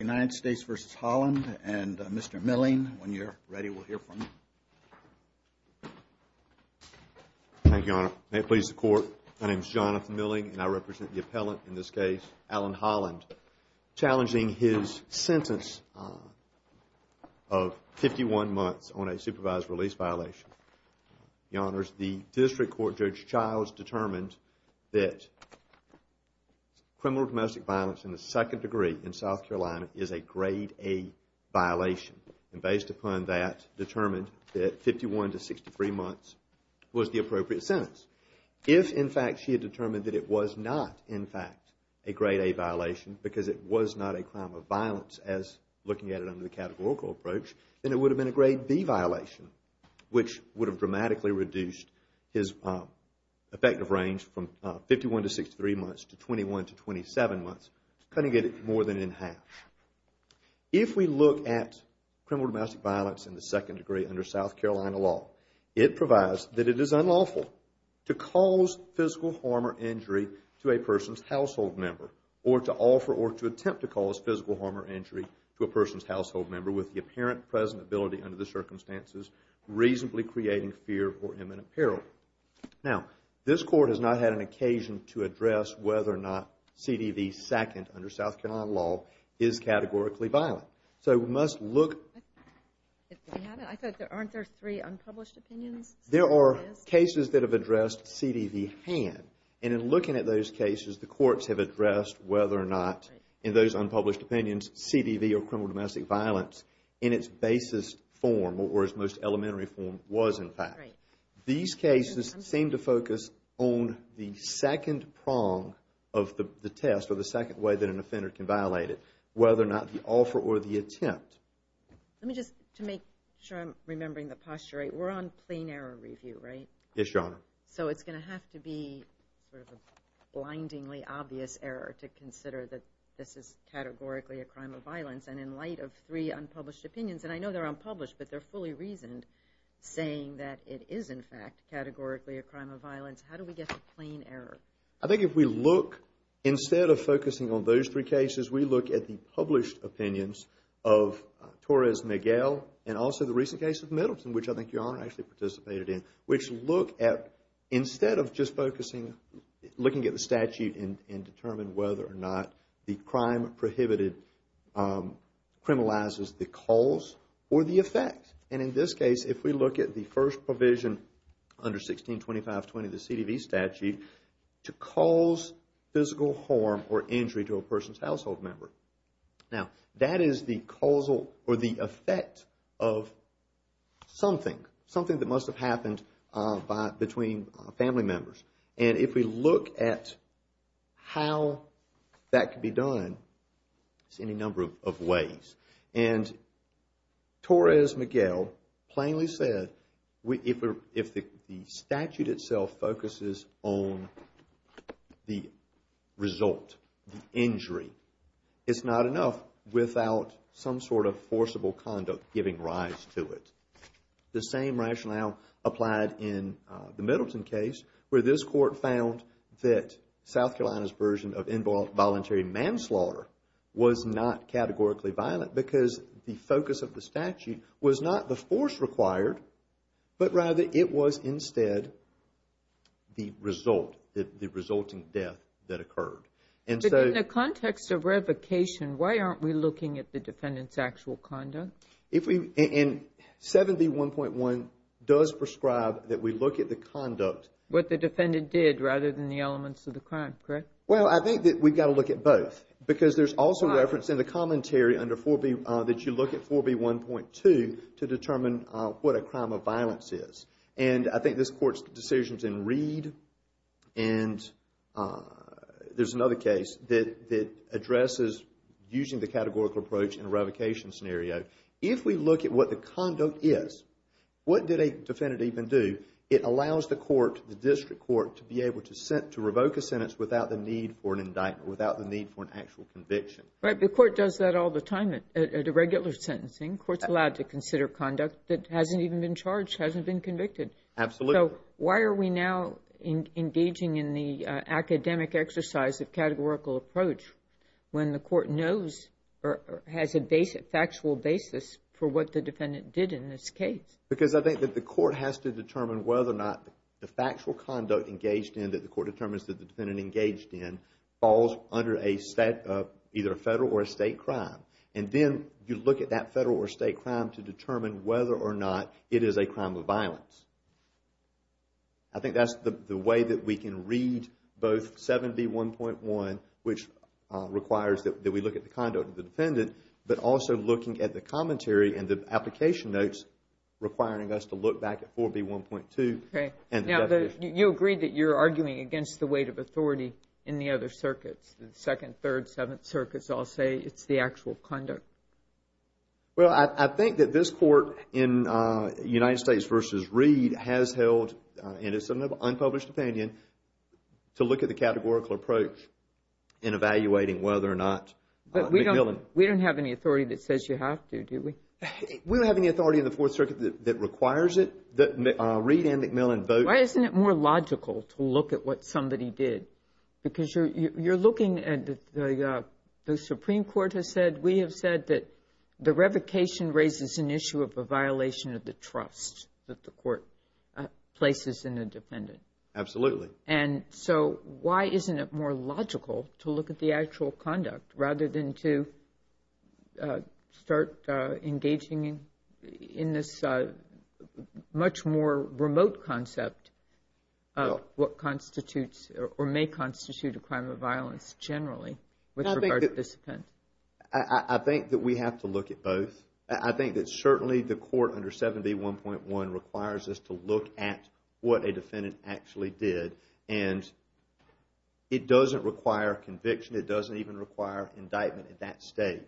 United States v. Holland, and Mr. Milling, when you're ready, we'll hear from you. Thank you, Your Honor. May it please the Court, my name is Jonathan Milling, and I represent the appellant in this case, Allen Holland, challenging his sentence of 51 months on a supervised release violation. Your Honors, the district court, Judge Childs, determined that criminal domestic violence in the second degree in South Carolina is a grade A violation. And based upon that, determined that 51 to 63 months was the appropriate sentence. If, in fact, she had determined that it was not, in fact, a grade A violation, because it was not a crime of violence as looking at it under the categorical approach, then it would have been a grade B violation, which would have dramatically reduced his effective range from 51 to 63 months to 21 to 27 months, cutting it more than in half. If we look at criminal domestic violence in the second degree under South Carolina law, it provides that it is unlawful to cause physical harm or injury to a person's household member, or to offer or to attempt to cause physical harm or injury to a person's household member with the apparent presentability under the circumstances reasonably creating fear or imminent peril. Now, this Court has not had an occasion to address whether or not CDV second under South Carolina law is categorically violent. So, we must look... If we haven't, aren't there three unpublished opinions? There are cases that have addressed CDV hand, and in looking at those cases, the courts have addressed whether or not, in those unpublished opinions, CDV or criminal domestic violence in its basis form or its most elementary form was, in fact. These cases seem to focus on the second prong of the test or the second way that an offender can violate it, whether or not the offer or the attempt. Let me just, to make sure I'm remembering the posture right, we're on plain error review, right? Yes, Your Honor. So, it's going to have to be sort of a blindingly obvious error to consider that this is categorically a crime of violence, and in light of three unpublished opinions, and I know they're unpublished, but they're fully reasoned, saying that it is, in fact, categorically a crime of violence. How do we get to plain error? I think if we look, instead of focusing on those three cases, we look at the published opinions of Torres-Miguel and also the recent case of Middleton, which I think Your Honor actually participated in, which look at, instead of just focusing, looking at the statute and determine whether or not the crime prohibited criminalizes the cause or the effect, and in this case, if we look at the first provision under 162520, the CDV statute, to cause physical harm or injury to a person's household member. Now, that is the causal or the effect of something, something that must have happened between family members, and if we look at how that could be done, there's any number of ways, and Torres-Miguel plainly said, if the statute itself focuses on the result, the injury, it's not enough without some sort of forcible conduct giving rise to it. The same rationale applied in the Middleton case, where this court found that South Carolina's version of involuntary manslaughter was not categorically violent because the focus of the statute was not the force required, but rather it was instead the result, the resulting death that occurred. But in the context of revocation, why aren't we looking at the defendant's actual conduct? If we, and 7B1.1 does prescribe that we look at the conduct. What the defendant did rather than the elements of the crime, correct? Well, I think that we've got to look at both, because there's also reference in the commentary under 4B, that you look at 4B1.2 to determine what a crime of violence is. And I think this court's decisions in Reed, and there's another case that addresses using the categorical approach in a revocation scenario. If we look at what the conduct is, what did a defendant even do? It allows the court, the district court, to be able to revoke a sentence without the need for an indictment, without the need for an actual conviction. Right, the court does that all the time at a regular sentencing. The court's allowed to consider conduct that hasn't even been charged, hasn't been convicted. Absolutely. So, why are we now engaging in the academic exercise of categorical approach when the court knows or has a factual basis for what the defendant did in this case? Because I think that the court has to determine whether or not the factual conduct engaged in, that the court determines that the defendant engaged in, falls under either a federal or a state crime. And then you look at that federal or state crime to determine whether or not it is a crime of violence. I think that's the way that we can read both 7B1.1, which requires that we look at the conduct of the defendant, but also looking at the commentary and the application notes requiring us to look back at 4B1.2 and the definition. You agreed that you're arguing against the weight of authority in the other circuits, the 2nd, 3rd, 7th circuits all say it's the actual conduct. Well, I think that this court in United States v. Reed has held, and it's an unpublished opinion, to look at the categorical approach in evaluating whether or not McMillan. But we don't have any authority that says you have to, do we? We don't have any authority in the 4th Circuit that requires it. Reed and McMillan vote. Why isn't it more logical to look at what somebody did? Because you're looking at, the Supreme Court has said, we have said that the revocation raises an issue of a violation of the trust that the court places in the defendant. Absolutely. And so, why isn't it more logical to look at the actual conduct rather than to start engaging in this much more remote concept of what constitutes or may constitute a crime of violence generally with regard to this offense? I think that we have to look at both. I think that certainly the court under 7B1.1 requires us to look at what a defendant actually did. And it doesn't require conviction. It doesn't even require indictment at that stage.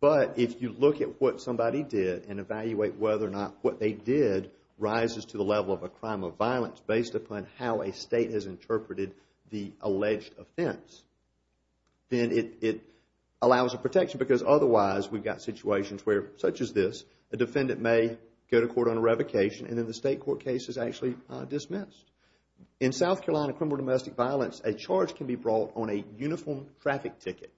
But if you look at what somebody did and evaluate whether or not what they did rises to the level of a crime of violence based upon how a state has interpreted the alleged offense, then it allows a protection. And because otherwise, we've got situations where, such as this, a defendant may go to court on a revocation and then the state court case is actually dismissed. In South Carolina, criminal domestic violence, a charge can be brought on a uniform traffic ticket.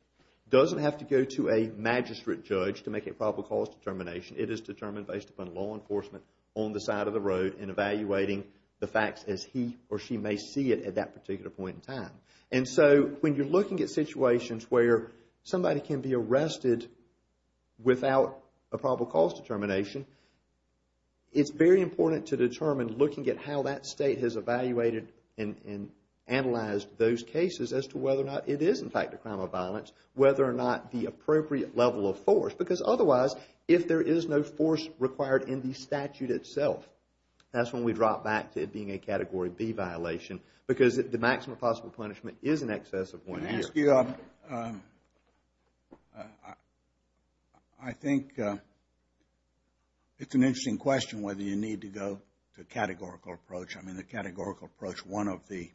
It doesn't have to go to a magistrate judge to make a probable cause determination. It is determined based upon law enforcement on the side of the road and evaluating the facts as he or she may see it at that particular point in time. And so, when you're looking at situations where somebody can be arrested without a probable cause determination, it's very important to determine looking at how that state has evaluated and analyzed those cases as to whether or not it is, in fact, a crime of violence, whether or not the appropriate level of force. Because otherwise, if there is no force required in the statute itself, that's when we drop back to it being a Category B violation. Because the maximum possible punishment is in excess of one year. I think it's an interesting question whether you need to go to a categorical approach. I mean, the categorical approach, one of the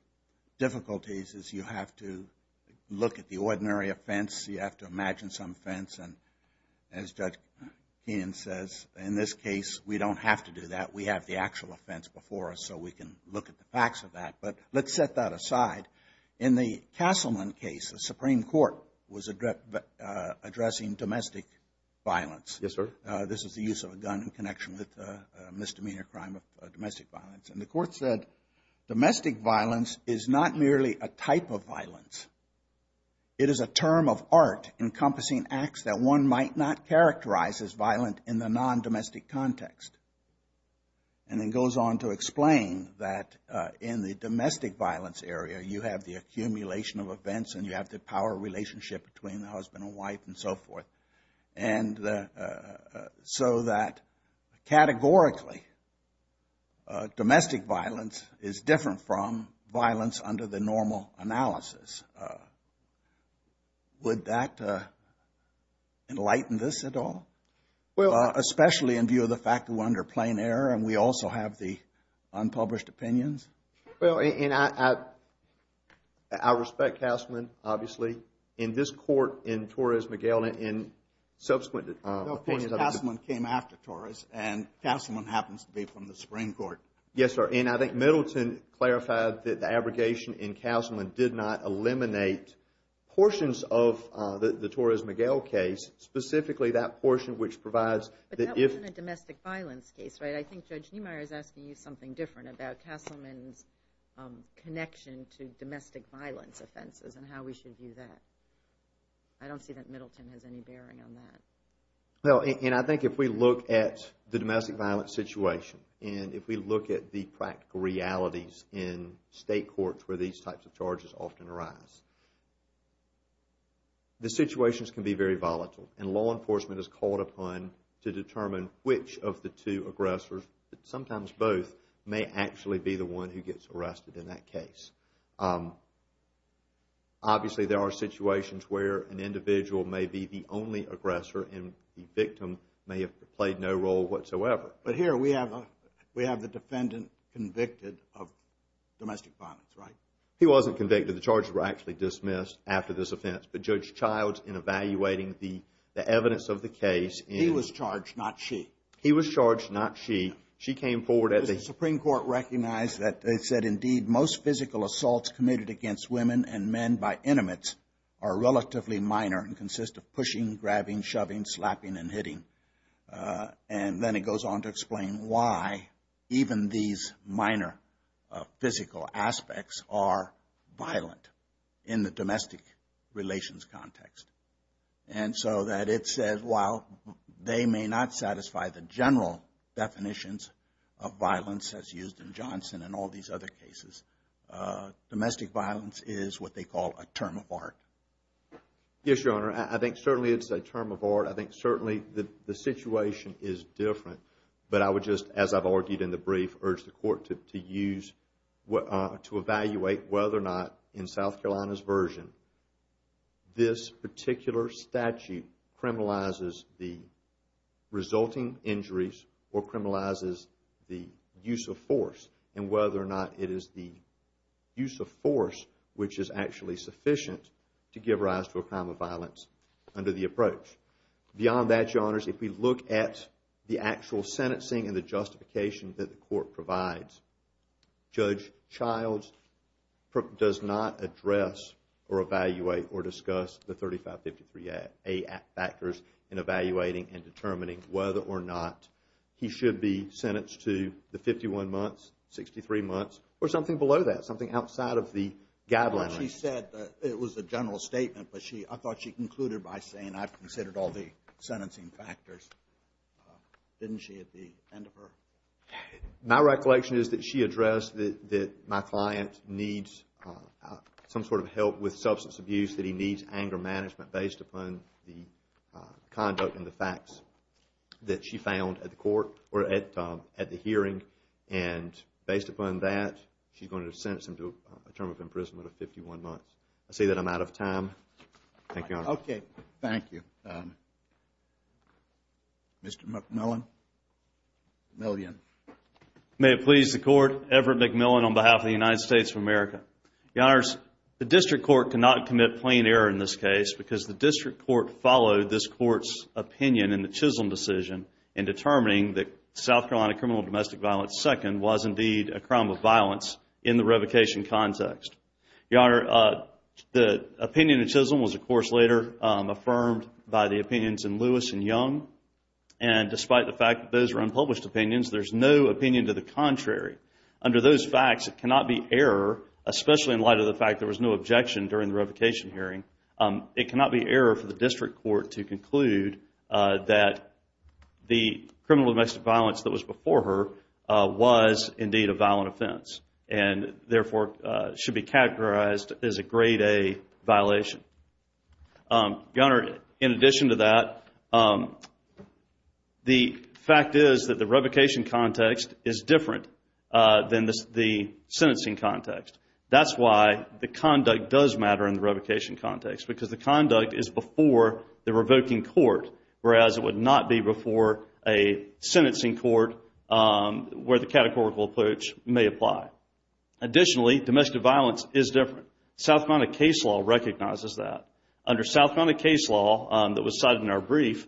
difficulties is you have to look at the ordinary offense. You have to imagine some offense. And as Judge Keenan says, in this case, we don't have to do that. We have the actual offense before us so we can look at the facts of that. But let's set that aside. In the Castleman case, the Supreme Court was addressing domestic violence. Yes, sir. This is the use of a gun in connection with a misdemeanor crime of domestic violence. And the court said domestic violence is not merely a type of violence. It is a term of art encompassing acts that one might not characterize as violent in the non-domestic context. And it goes on to explain that in the domestic violence area, you have the accumulation of events and you have the power relationship between the husband and wife and so forth. And so that categorically, domestic violence is different from violence under the normal analysis. Would that enlighten this at all? Especially in view of the fact that we're under plain error and we also have the unpublished opinions? Well, and I respect Castleman, obviously. In this court, in Torres-Miguel, in subsequent... Castleman came after Torres and Castleman happens to be from the Supreme Court. Yes, sir. And I think Middleton clarified that the abrogation in Castleman did not eliminate portions of the Torres-Miguel case. Specifically, that portion which provides... But that wasn't a domestic violence case, right? I think Judge Niemeyer is asking you something different about Castleman's connection to domestic violence offenses and how we should view that. I don't see that Middleton has any bearing on that. Well, and I think if we look at the domestic violence situation and if we look at the practical realities in state courts where these types of charges often arise, the situations can be very volatile. And law enforcement is called upon to determine which of the two aggressors, sometimes both, may actually be the one who gets arrested in that case. Obviously, there are situations where an individual may be the only aggressor and the victim may have played no role whatsoever. But here we have the defendant convicted of domestic violence, right? He wasn't convicted. The charges were actually dismissed after this offense. But Judge Childs, in evaluating the evidence of the case... He was charged, not she. He was charged, not she. She came forward as... The Supreme Court recognized that it said, indeed, most physical assaults committed against women and men by intimates are relatively minor and consist of pushing, grabbing, shoving, slapping, and hitting. And then it goes on to explain why even these minor physical aspects are violent in the domestic relations context. And so that it said, while they may not satisfy the general definitions of violence as used in Johnson and all these other cases, domestic violence is what they call a term of art. Yes, Your Honor. I think certainly it's a term of art. I think certainly the situation is different. But I would just, as I've argued in the brief, urge the Court to evaluate whether or not, in South Carolina's version, this particular statute criminalizes the resulting injuries or criminalizes the use of force and whether or not it is the use of force which is actually sufficient to give rise to a crime of violence under the approach. Beyond that, Your Honors, if we look at the actual sentencing and the justification that the Court provides, Judge Childs does not address or evaluate or discuss the 3553A factors in evaluating and determining whether or not he should be sentenced to the 51 months, 63 months, or something below that, something outside of the guideline. She said that it was a general statement, but I thought she concluded by saying, I've considered all the sentencing factors, didn't she, at the end of her? My recollection is that she addressed that my client needs some sort of help with substance abuse, that he needs anger management based upon the conduct and the facts that she found at the hearing. And based upon that, she's going to sentence him to a term of imprisonment of 51 months. I say that I'm out of time. Thank you, Your Honors. Okay, thank you. Mr. McMillan, Million. May it please the Court, Everett McMillan on behalf of the United States of America. Your Honors, the District Court cannot commit plain error in this case because the District Court followed this Court's opinion in the Chisholm decision in determining that South Carolina criminal domestic violence second was indeed a crime of violence in the revocation context. Your Honor, the opinion in Chisholm was, of course, later affirmed by the opinions in Lewis and Young. And despite the fact that those are unpublished opinions, there's no opinion to the contrary. Under those facts, it cannot be error, especially in light of the fact there was no objection during the revocation hearing. It cannot be error for the District Court to conclude that the criminal domestic violence that was before her was indeed a violent offense and therefore should be characterized as a Grade A violation. Your Honor, in addition to that, the fact is that the revocation context is different than the sentencing context. That's why the conduct does matter in the revocation context because the conduct is before the revoking court, whereas it would not be before a sentencing court where the categorical approach may apply. Additionally, domestic violence is different. South Carolina case law recognizes that. Under South Carolina case law that was cited in our brief,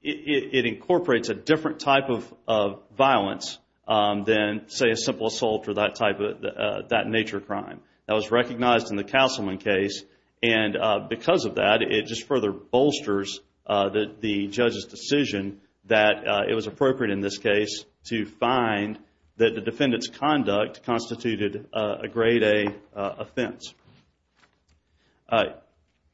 it incorporates a different type of violence than, say, a simple assault or that nature of crime. That was recognized in the Castleman case. Because of that, it just further bolsters the judge's decision that it was appropriate in this case to find that the defendant's conduct constituted a Grade A offense.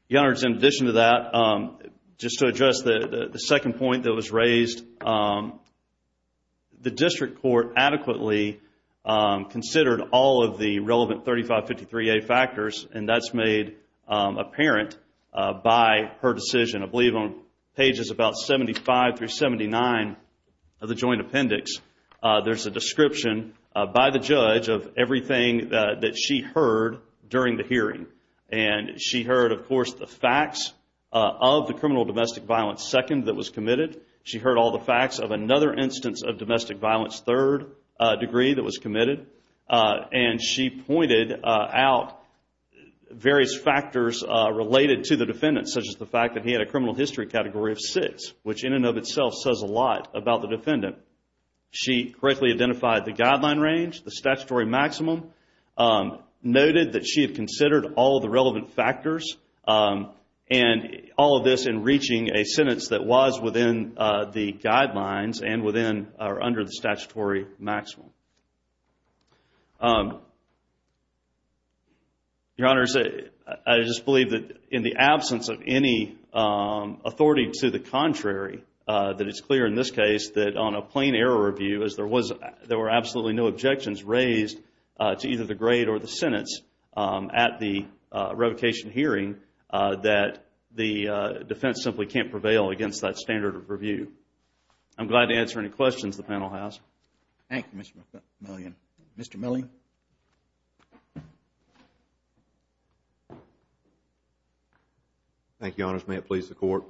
Your Honor, in addition to that, just to address the second point that was raised, the District Court adequately considered all of the relevant 3553A factors, and that's made apparent by her decision. I believe on pages about 75 through 79 of the joint appendix, there's a description by the judge of everything that she heard during the hearing. She heard, of course, the facts of the criminal domestic violence second that was committed. She heard all the facts of another instance of domestic violence third degree that was committed. And she pointed out various factors related to the defendant, such as the fact that he had a criminal history category of six, which in and of itself says a lot about the defendant. She correctly identified the guideline range, the statutory maximum, noted that she had considered all of the relevant factors, and all of this in reaching a sentence that was within the guidelines and within or under the statutory maximum. Your Honor, I just believe that in the absence of any authority to the contrary, that it's clear in this case that on a plain error review, as there were absolutely no objections raised to either the grade or the sentence at the revocation hearing, that the defense simply can't prevail against that standard of review. I'm glad to answer any questions the panel has. Thank you, Mr. Millian. Mr. Millian? Thank you, Your Honors. May it please the Court.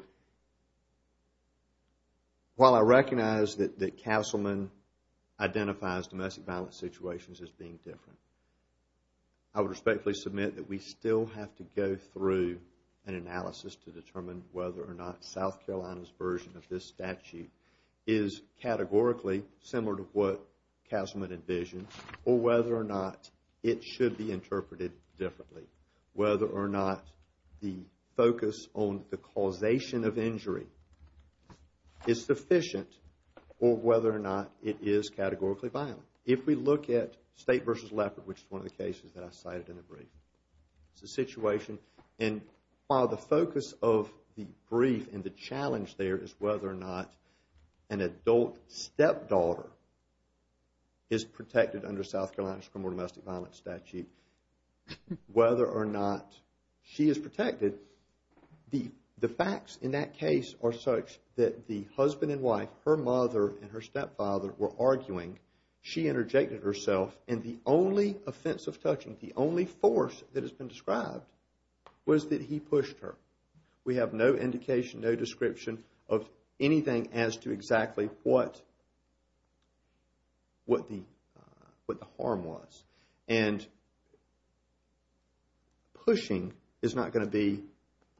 While I recognize that the councilman identifies domestic violence situations as being different, I would respectfully submit that we still have to go through an analysis to determine whether or not South Carolina's version of this statute is categorically similar to what Castleman envisions, or whether or not it should be interpreted differently, whether or not the focus on the causation of injury is sufficient, or whether or not it is categorically violent. If we look at State v. Leopard, which is one of the cases that I cited in the brief, it's a situation, and while the focus of the brief and the challenge there is whether or not an adult stepdaughter is protected under South Carolina's criminal domestic violence statute, whether or not she is protected, the facts in that case are such that the husband and wife, her mother, and her stepfather were arguing, she interjected herself, and the only offensive touching, the only force that has been described, was that he pushed her. We have no indication, no description, of anything as to exactly what the harm was. And pushing is not going to be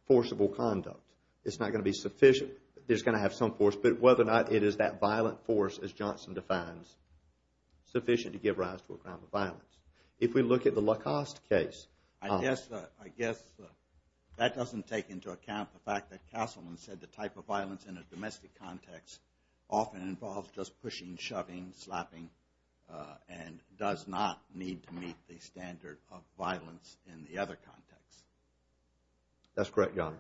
forcible conduct. It's not going to be sufficient. There's going to have some force, but whether or not it is that violent force, as Johnson defines, sufficient to give rise to a crime of violence. If we look at the Lacoste case... I guess that doesn't take into account the fact that Castleman said the type of violence in a domestic context often involves just pushing, shoving, slapping, and does not need to meet the standard of violence in the other context. That's correct, Your Honor.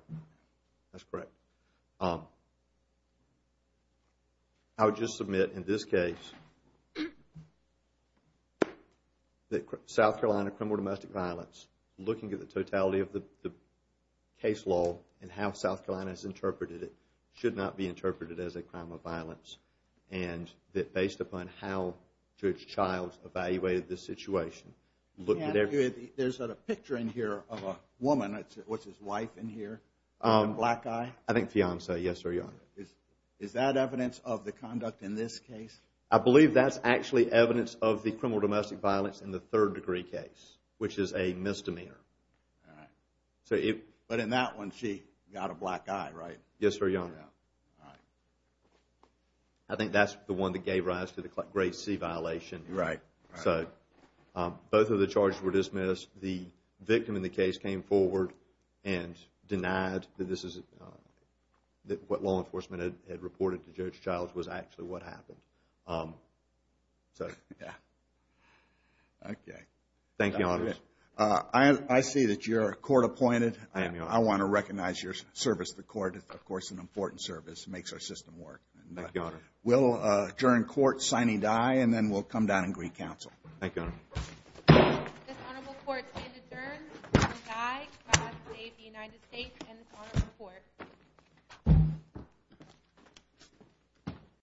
That's correct. I would just submit, in this case, that South Carolina criminal domestic violence, looking at the totality of the case law and how South Carolina has interpreted it, should not be interpreted as a crime of violence. And that based upon how Judge Childs evaluated this situation... There's a picture in here of a woman, what's his wife in here, the black guy? I think fiance, yes, Your Honor. Is that evidence of the conduct in this case? I believe that's actually evidence of the criminal domestic violence in the third degree case, which is a misdemeanor. But in that one, she got a black eye, right? Yes, Your Honor. I think that's the one that gave rise to the grade C violation. So, both of the charges were dismissed. The victim in the case came forward and denied that what law enforcement had reported to Judge Childs was actually what happened. So, yeah. Okay. Thank you, Your Honor. I see that you're court appointed. I am, Your Honor. I want to recognize your service to the court. It's, of course, an important service. It makes our system work. Thank you, Your Honor. and then we'll come down and greet counsel. Thank you, Your Honor. This honorable court is adjourned. I die to save the United States and this honorable court.